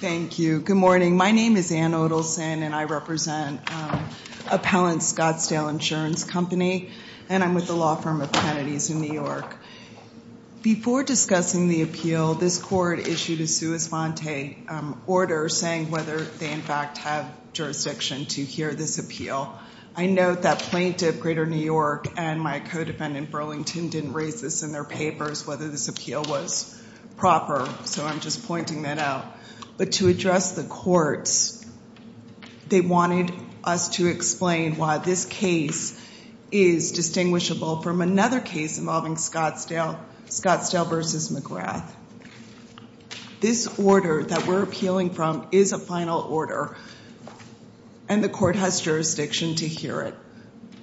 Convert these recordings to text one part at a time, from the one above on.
Thank you. Good morning. My name is Ann Odelson and I represent Appellant Scottsdale Insurance Company and I'm with the law firm of Kennedy's in New York. Before discussing the appeal, this court issued a sua sponte order saying whether they in fact have jurisdiction to hear this appeal. I note that Plaintiff Greater New York and my co-defendant Burlington didn't raise this in their papers, whether this appeal was proper. So I'm just pointing that out. But to address the courts, they wanted us to explain why this case is distinguishable from another case involving Scottsdale, Scottsdale v. McGrath. This order that we're appealing from is a final order and the court has jurisdiction to hear it.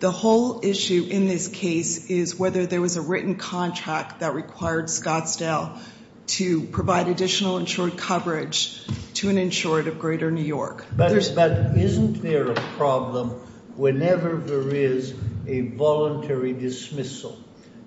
The whole issue in this case is whether there was a written contract that required Scottsdale to provide additional insured coverage to an insured of Greater New York. But isn't there a problem whenever there is a voluntary dismissal?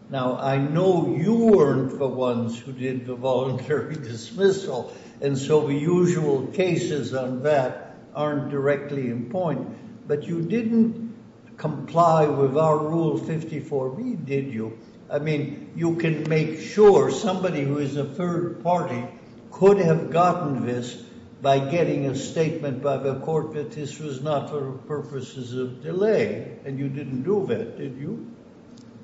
Now, I know you weren't the ones who did the voluntary dismissal, and so the usual cases on that aren't directly in point, but you didn't comply with our Rule 54B, did you? I mean, you can make sure somebody who is a third party could have gotten this by getting a statement by the court that this was not for purposes of delay, and you didn't do that, did you?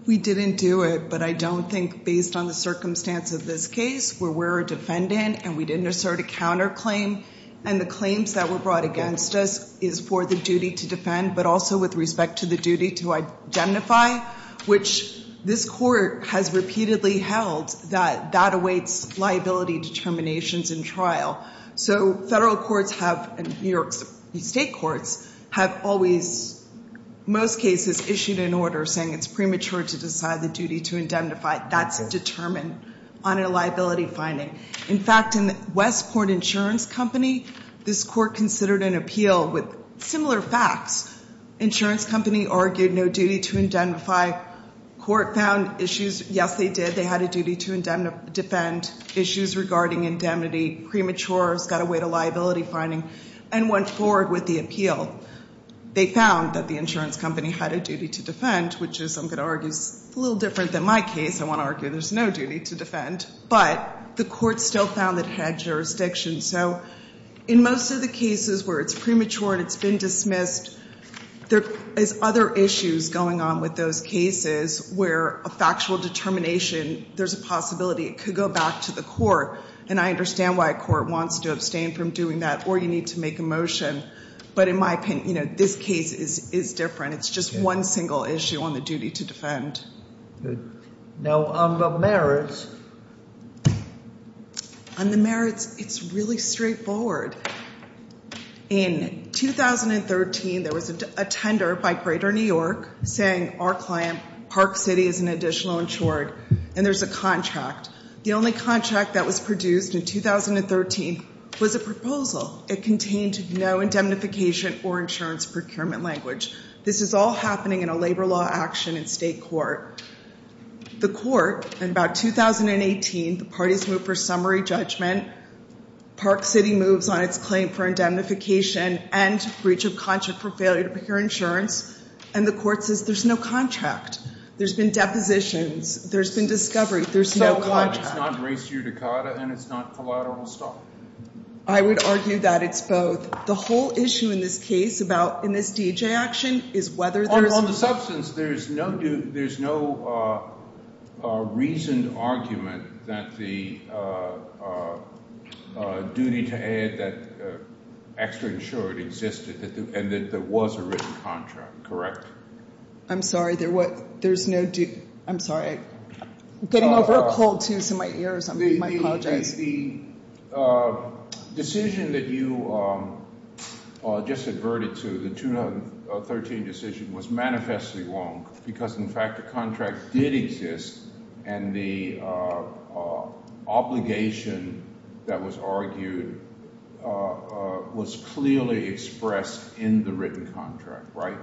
We didn't do it, but I don't think based on the circumstance of this case where we're a defendant and we didn't assert a counterclaim and the claims that were brought against us is for the duty to defend, but also with respect to the duty to identify, which this court has repeatedly held that that awaits liability determinations in trial. So federal courts have, and New York State courts, have always, most cases, issued an order saying it's premature to decide the duty to indemnify. That's a determined honor liability finding. In fact, in Westport Insurance Company, this court considered an appeal with similar facts. Insurance company argued no duty to indemnify. Court found issues. Yes, they did. Issues regarding indemnity, premature, it's got to wait a liability finding, and went forward with the appeal. They found that the insurance company had a duty to defend, which is, I'm going to argue, a little different than my case. I want to argue there's no duty to defend, but the court still found that it had jurisdiction. So in most of the cases where it's premature and it's been dismissed, there is other issues going on with those cases where a factual determination, there's a possibility it could go back to the court, and I understand why a court wants to abstain from doing that, or you need to make a motion. But in my opinion, you know, this case is different. It's just one single issue on the duty to defend. Good. Now, on the merits. On the merits, it's really straightforward. In 2013, there was a tender by Greater New York saying our client, Park City, is an additional insured, and there's a contract. The only contract that was produced in 2013 was a proposal. It contained no indemnification or insurance procurement language. This is all happening in a labor law action in state court. The court, in about 2018, the parties moved for summary judgment. Park City moves on its claim for indemnification and breach of contract for failure to procure insurance, and the court says there's no contract. There's been depositions. There's been discovery. There's no contract. So it's not race-judicata, and it's not collateral assault? I would argue that it's both. The whole issue in this case about, in this DEJ action, is whether there's... On the substance, there's no reasoned argument that the duty to add that extra insured existed, and that there was a written contract, correct? I'm sorry, there's no due... I'm sorry, I'm getting over a cold too, so my ears, I apologize. The decision that you just adverted to, the 2013 decision, was manifestly wrong, because, in fact, the contract did exist, and the obligation that was argued was clearly expressed in the written contract, right?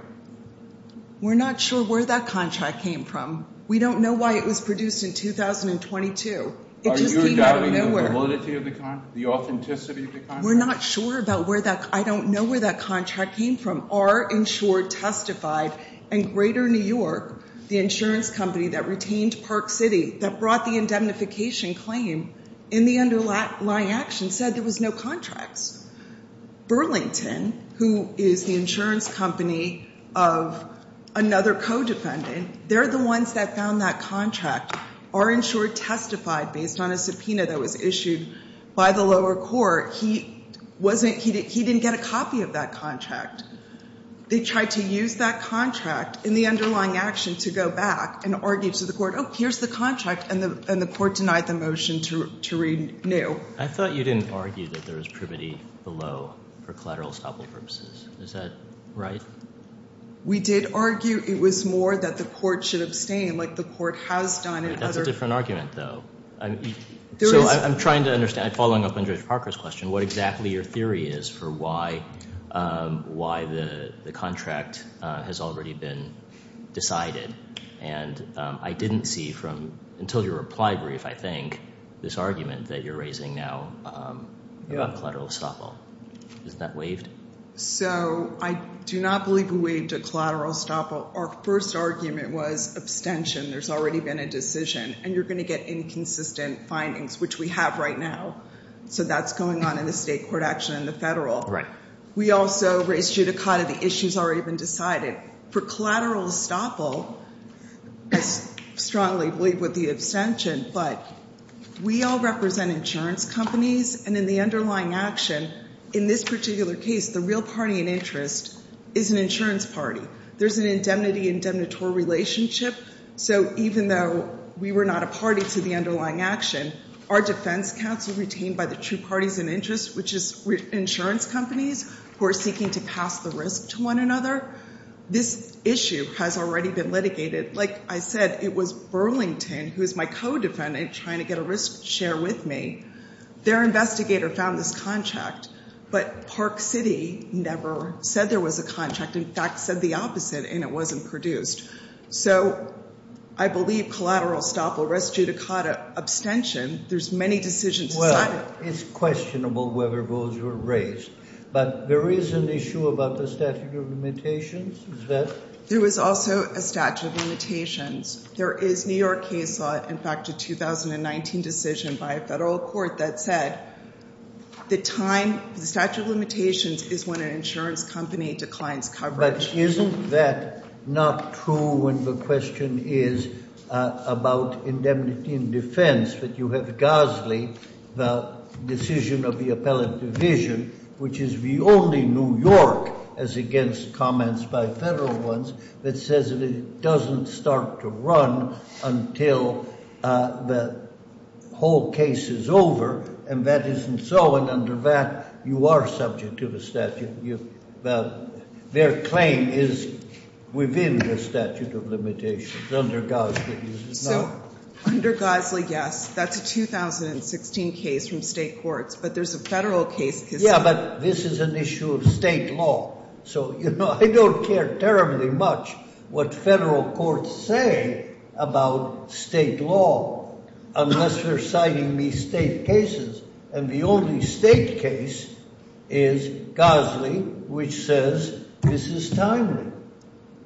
We're not sure where that contract came from. We don't know why it was produced in 2022. Are you doubting the validity of the contract, the authenticity of the contract? We're not sure about where that... I don't know where that contract came from. Our insured testified, and Greater New York, the insurance company that retained Park City, that brought the indemnification claim in the underlying action, said there was no contracts. Burlington, who is the insurance company of another co-defendant, they're the ones that found that contract. Our insured testified, based on a subpoena that was issued by the lower court, he didn't get a copy of that contract. They tried to use that contract in the underlying action to go back and argue to the court, oh, here's the contract, and the court denied the motion to renew. I thought you didn't argue that there was privity below for collateral estoppel purposes. Is that right? We did argue it was more that the court should abstain, like the court has done in other... That's a different argument, though. So I'm trying to understand, following up on Judge Parker's question, what exactly your theory is for why the contract has already been decided. And I didn't see from, until your reply brief, I think, this argument that you're raising now about collateral estoppel. Isn't that waived? So I do not believe we waived a collateral estoppel. Our first argument was abstention. There's already been a decision, and you're going to get inconsistent findings, which we have right now. So that's going on in the state court action and the federal. Right. We also raised judicata. The issue's already been decided. For collateral estoppel, I strongly believe with the abstention, but we all represent insurance companies. And in the underlying action, in this particular case, the real party in interest is an insurance party. There's an indemnity-indemnitore relationship. So even though we were not a party to the underlying action, our defense counsel retained by the two parties in interest, which is insurance companies who are seeking to pass the risk to one another. This issue has already been litigated. Like I said, it was Burlington, who is my co-defendant, trying to get a risk share with me. Their investigator found this contract, but Park City never said there was a contract. In fact, said the opposite, and it wasn't produced. So I believe collateral estoppel, res judicata, abstention, there's many decisions decided. It's questionable whether those were raised. But there is an issue about the statute of limitations, is that? There was also a statute of limitations. There is New York case law, in fact, a 2019 decision by a federal court that said the time, the statute of limitations, is when an insurance company declines coverage. But isn't that not true when the question is about indemnity and defense, that you have Gosley, the decision of the appellate division, which is the only New York, as against comments by federal ones, that says it doesn't start to run until the whole case is over, and that isn't so, and under that, you are subject to the statute. Their claim is within the statute of limitations, under Gosley, it's not. So, under Gosley, yes, that's a 2016 case from state courts, but there's a federal case case. Yeah, but this is an issue of state law. So, you know, I don't care terribly much what federal courts say about state law, unless they're citing me state cases, and the only state case is Gosley, which says this is timely.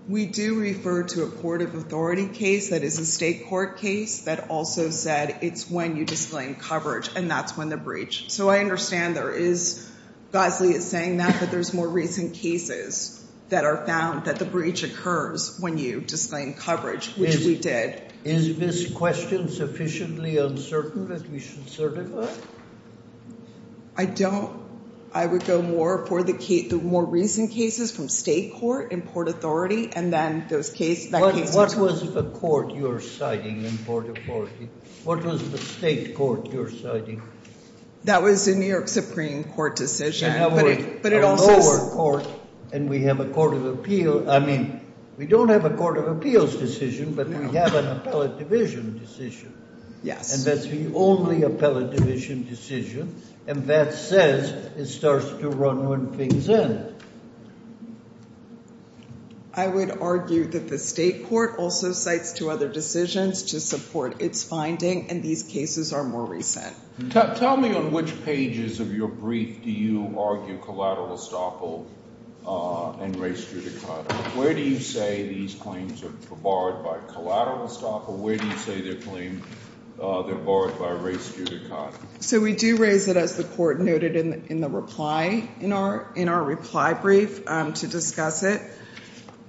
We do refer to a court of authority case that is a state court case that also said it's when you disclaim coverage, and that's when the breach. So, I understand there is, Gosley is saying that, but there's more recent cases that are found that the breach occurs when you disclaim coverage, which we did. Is this question sufficiently uncertain that we should certify? I don't. I would go more for the more recent cases from state court and court authority, and then those cases. What was the court you're citing in court authority? What was the state court you're citing? That was a New York Supreme Court decision. We have a lower court, and we have a court of appeal. I mean, we don't have a court of appeals decision, but we have an appellate division decision. Yes. And that's the only appellate division decision, and that says it starts to run when things end. I would argue that the state court also cites two other decisions to support its finding, and these cases are more recent. Tell me on which pages of your brief do you argue collateral estoppel and res judicata? Where do you say these claims are barred by collateral estoppel? Where do you say they're barred by res judicata? So, we do raise it, as the court noted in the reply, in our reply brief to discuss it,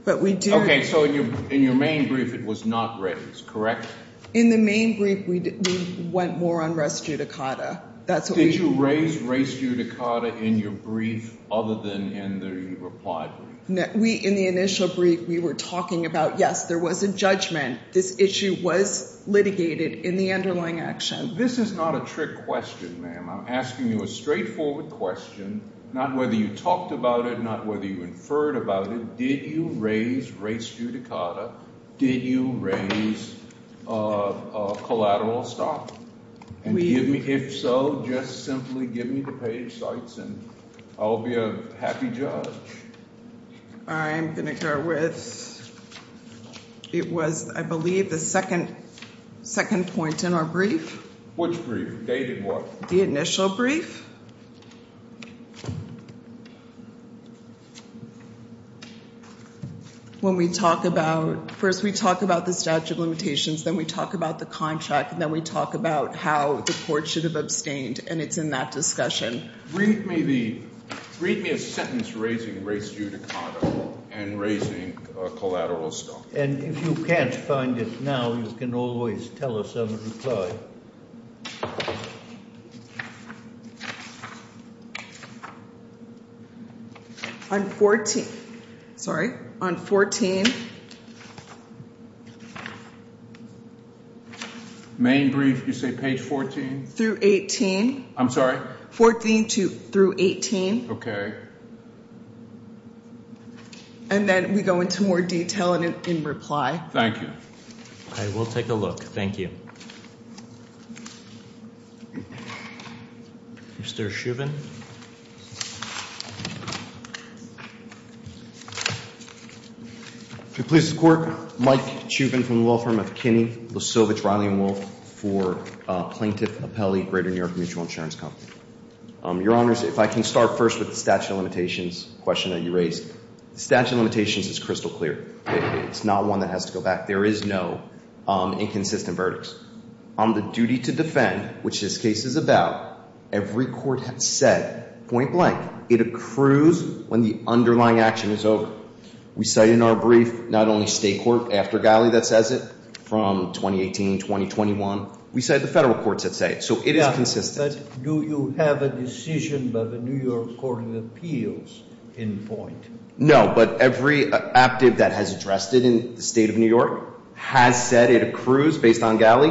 but we do. Okay. So, in your main brief, it was not raised, correct? In the main brief, we went more on res judicata. Did you raise res judicata in your brief other than in the reply brief? We, in the initial brief, we were talking about, yes, there was a judgment. This issue was litigated in the underlying action. This is not a trick question, ma'am. I'm asking you a straightforward question, not whether you talked about it, not whether you inferred about it. Did you raise res judicata? Did you raise collateral estoppel? And give me, if so, just simply give me the page sites and I'll be a happy judge. I'm going to start with, it was, I believe, the second point in our brief. Which brief? Dated what? The initial brief. When we talk about, first we talk about the statute of limitations, then we talk about the contract, and then we talk about how the court should have abstained, and it's in that discussion. Read me the, read me a sentence raising res judicata and raising collateral estoppel. And if you can't find it now, you can always tell us in the reply. On 14, sorry, on 14. Main brief, you say page 14? Through 18. I'm sorry? 14 to, through 18. Okay. And then we go into more detail in reply. Thank you. I will take a look, thank you. Mr. Chubin. To please the court. Mike Chubin from the law firm of Kinney, Losovich, Riley, and Wolf for plaintiff appellee, Greater New York Mutual Insurance Company. Your honors, if I can start first with the statute of limitations question that you raised. The statute of limitations is crystal clear. It's not one that has to go back. There is no inconsistent verdicts. On the duty to defend, which this case is about, every court has said point blank. It accrues when the underlying action is over. We say in our brief, not only state court after Galley that says it from 2018, 2021. We say the federal courts that say it. So it is consistent. Do you have a decision by the New York Court of Appeals in point? No, but every active that has addressed it in the state of New York has said it accrues based on Galley.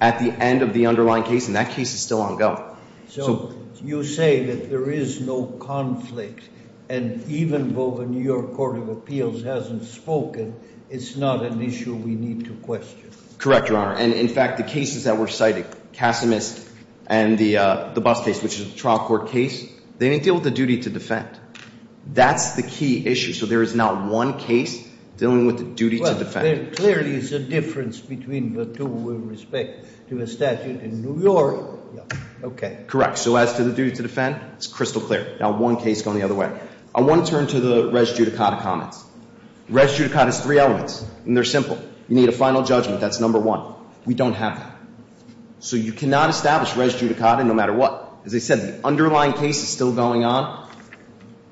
At the end of the underlying case, and that case is still on go. So you say that there is no conflict. And even though the New York Court of Appeals hasn't spoken, it's not an issue we need to question. Correct, your honor. And in fact, the cases that were cited, Casimus and the bus case, which is a trial court case, they didn't deal with the duty to defend. That's the key issue. So there is not one case dealing with the duty to defend. Clearly, it's a difference between the two with respect to the statute in New York. Okay. Correct. So as to the duty to defend, it's crystal clear. Now, one case going the other way. I want to turn to the res judicata comments. Res judicata is three elements, and they're simple. You need a final judgment. That's number one. We don't have that. So you cannot establish res judicata no matter what. As I said, the underlying case is still going on.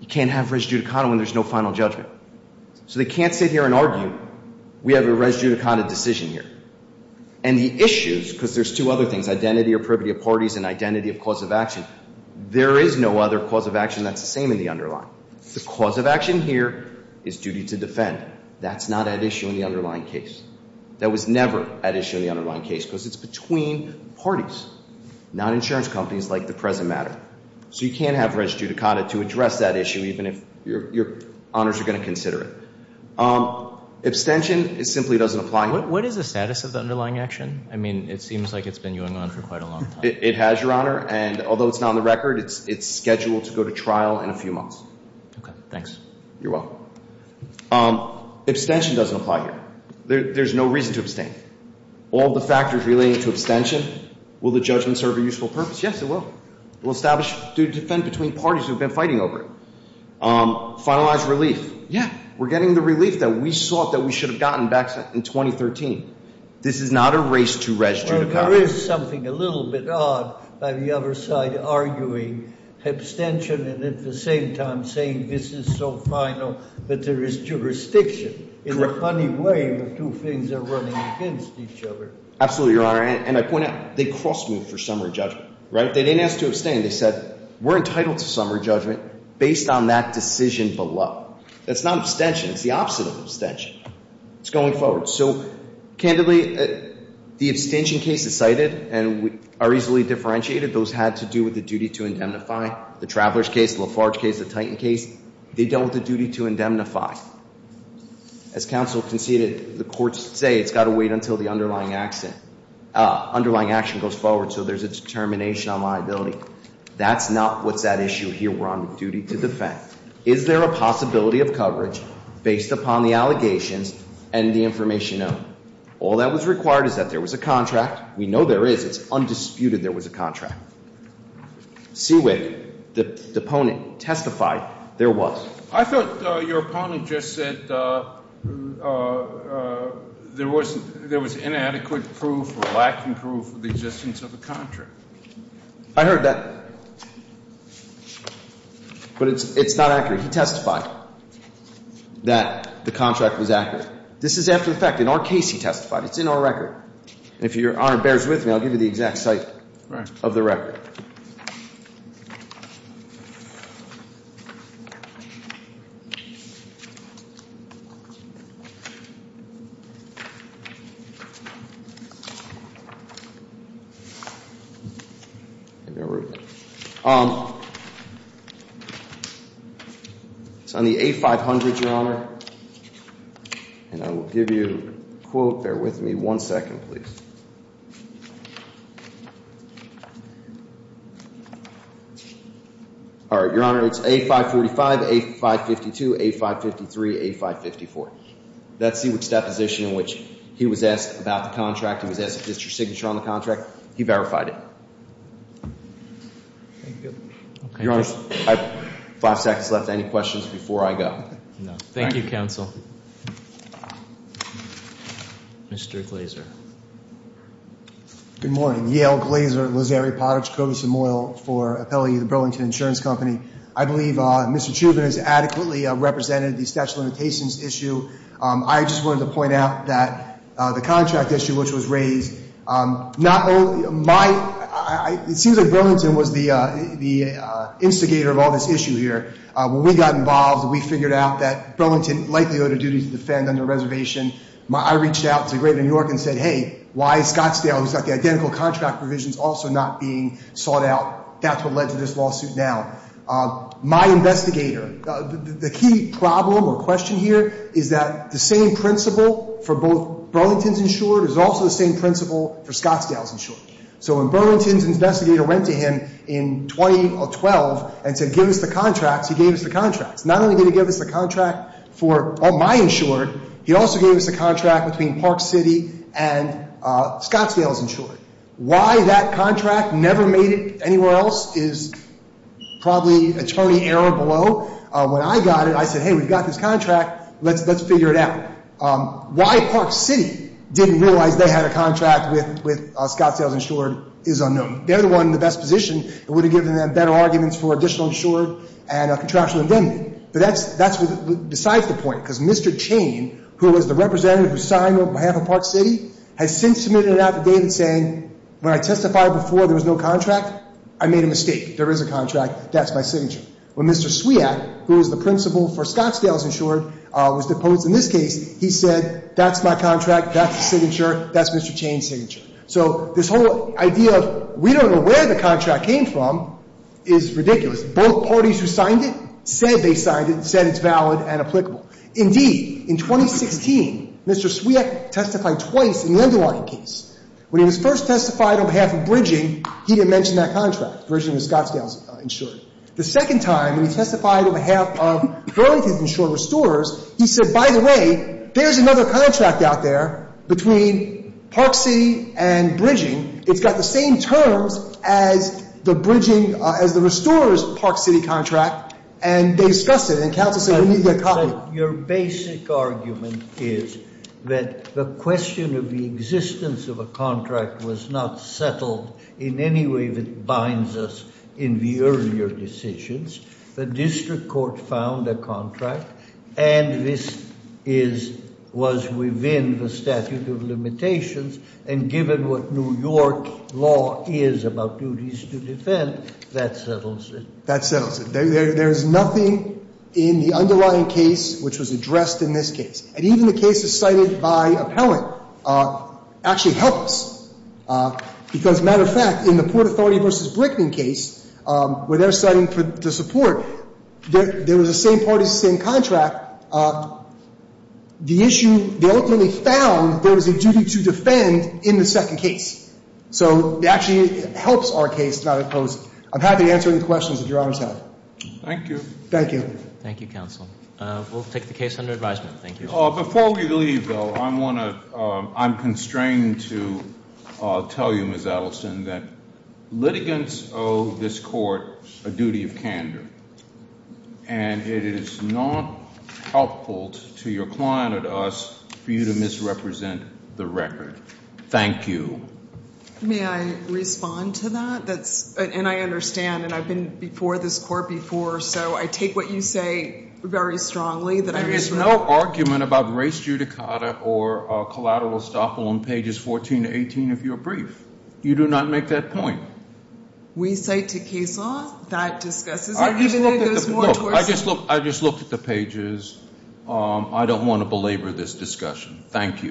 You can't have res judicata when there's no final judgment. So they can't sit here and argue. We have a res judicata decision here. And the issues, because there's two other things, identity or privity of parties and identity of cause of action, there is no other cause of action that's the same in the underlying. The cause of action here is duty to defend. That's not at issue in the underlying case. That was never at issue in the underlying case because it's between parties, not insurance companies like the present matter. So you can't have res judicata to address that issue even if your honors are going to consider it. Abstention, it simply doesn't apply here. What is the status of the underlying action? I mean, it seems like it's been going on for quite a long time. It has, your honor. And although it's not on the record, it's scheduled to go to trial in a few months. OK, thanks. You're welcome. Abstention doesn't apply here. There's no reason to abstain. All the factors relating to abstention, will the judgment serve a useful purpose? Yes, it will. It will establish duty to defend between parties who have been fighting over it. Finalized relief, yeah. We're getting the relief that we thought that we should have gotten back in 2013. This is not a race to res judicata. There is something a little bit odd by the other side arguing abstention and at the same time saying this is so final that there is jurisdiction. In a funny way, the two things are running against each other. Absolutely, your honor. And I point out, they crossed me for summary judgment, right? They didn't ask to abstain. They said, we're entitled to summary judgment based on that decision below. That's not abstention. It's the opposite of abstention. It's going forward. So candidly, the abstention case is cited and are easily differentiated. Those had to do with the duty to indemnify. The Traveler's case, the Lafarge case, the Titan case, they dealt with the duty to indemnify. As counsel conceded, the courts say it's got to wait until the underlying action goes forward so there's a determination on liability. That's not what's at issue here. We're on duty to defend. Is there a possibility of coverage based upon the allegations and the information known? All that was required is that there was a contract. We know there is. It's undisputed there was a contract. Seawick, the opponent, testified there was. I thought your opponent just said there was inadequate proof or lacking proof of the existence of a contract. I heard that. But it's not accurate. He testified that the contract was accurate. This is after the fact. In our case, he testified. It's in our record. And if your Honor bears with me, I'll give you the exact site of the record. It's on the A500, Your Honor. And I will give you a quote. Bear with me one second, please. All right, Your Honor, it's A545, A552, A553, A554. That's Seawick's deposition in which he was asked about the contract. He was asked if this is your signature on the contract. He verified it. Your Honor, I have five seconds left. Any questions before I go? Thank you, counsel. Mr. Glazer. Good morning. Yale Glazer, Lazeri Potage, Kogus and Moyle for appellee of the Burlington Insurance Company. I believe Mr. Chubin has adequately represented the statute of limitations issue. I just wanted to point out that the contract issue which was raised, not only, it seems like Burlington was the instigator of all this issue here. When we got involved, we figured out that Burlington likely owed a duty to defend under reservation. I reached out to the greater New York and said, hey, why is Scottsdale, who's got the identical contract provisions, also not being sought out? That's what led to this lawsuit now. My investigator, the key problem or question here is that the same principle for both Burlington's insured is also the same principle for Scottsdale's insured. So when Burlington's investigator went to him in 2012 and said, give us the contracts, he gave us the contracts. Not only did he give us the contract for my insured, he also gave us the contract between Park City and Scottsdale's insured. Why that contract never made it anywhere else is probably attorney error below. When I got it, I said, hey, we've got this contract, let's figure it out. Why Park City didn't realize they had a contract with Scottsdale's insured is unknown. They're the one in the best position that would have given them better arguments for additional insured and a contractual indemnity. But that's besides the point. Because Mr. Chain, who was the representative who signed on behalf of Park City, has since submitted an affidavit saying, when I testified before there was no contract, I made a mistake. There is a contract. That's my signature. When Mr. Swiat, who is the principal for Scottsdale's insured, was deposed in this case, he said, that's my contract. That's the signature. That's Mr. Chain's signature. So this whole idea of we don't know where the contract came from is ridiculous. Both parties who signed it said they signed it, said it's valid and applicable. Indeed, in 2016, Mr. Swiat testified twice in the underlying case. When he was first testified on behalf of Bridging, he didn't mention that contract, Bridging was Scottsdale's insured. The second time, when he testified on behalf of Burlington's insured restorers, he said, by the way, there's another contract out there between Park City and Bridging. It's got the same terms as the Bridging, as the restorers' Park City contract, and they discussed it, and counsel said we need to get a copy. Your basic argument is that the question of the existence of a contract was not settled in any way that binds us in the earlier decisions. The district court found a contract, and this was within the statute of limitations, and given what New York law is about duties to defend, that settles it. That settles it. There's nothing in the underlying case which was addressed in this case. And even the cases cited by appellant actually help us, because, matter of fact, in the Port Authority v. Brickman case, where they're citing the support, there was the same parties, same contract. The issue, they ultimately found there was a duty to defend in the second case. So it actually helps our case not impose. I'm happy to answer any questions that your honors have. Thank you. Thank you. Thank you, counsel. We'll take the case under advisement. Thank you. Before we leave, though, I'm constrained to tell you, Ms. Adelson, that litigants owe this court a duty of candor. And it is not helpful to your client or to us for you to misrepresent the record. Thank you. May I respond to that? And I understand, and I've been before this court before, so I take what you say very strongly. There is no argument about race judicata or collateral estoppel on pages 14 to 18 of your brief. You do not make that point. We cite to case law that discusses it, even though it goes more towards the- Look, I just looked at the pages. I don't want to belabor this discussion. Thank you.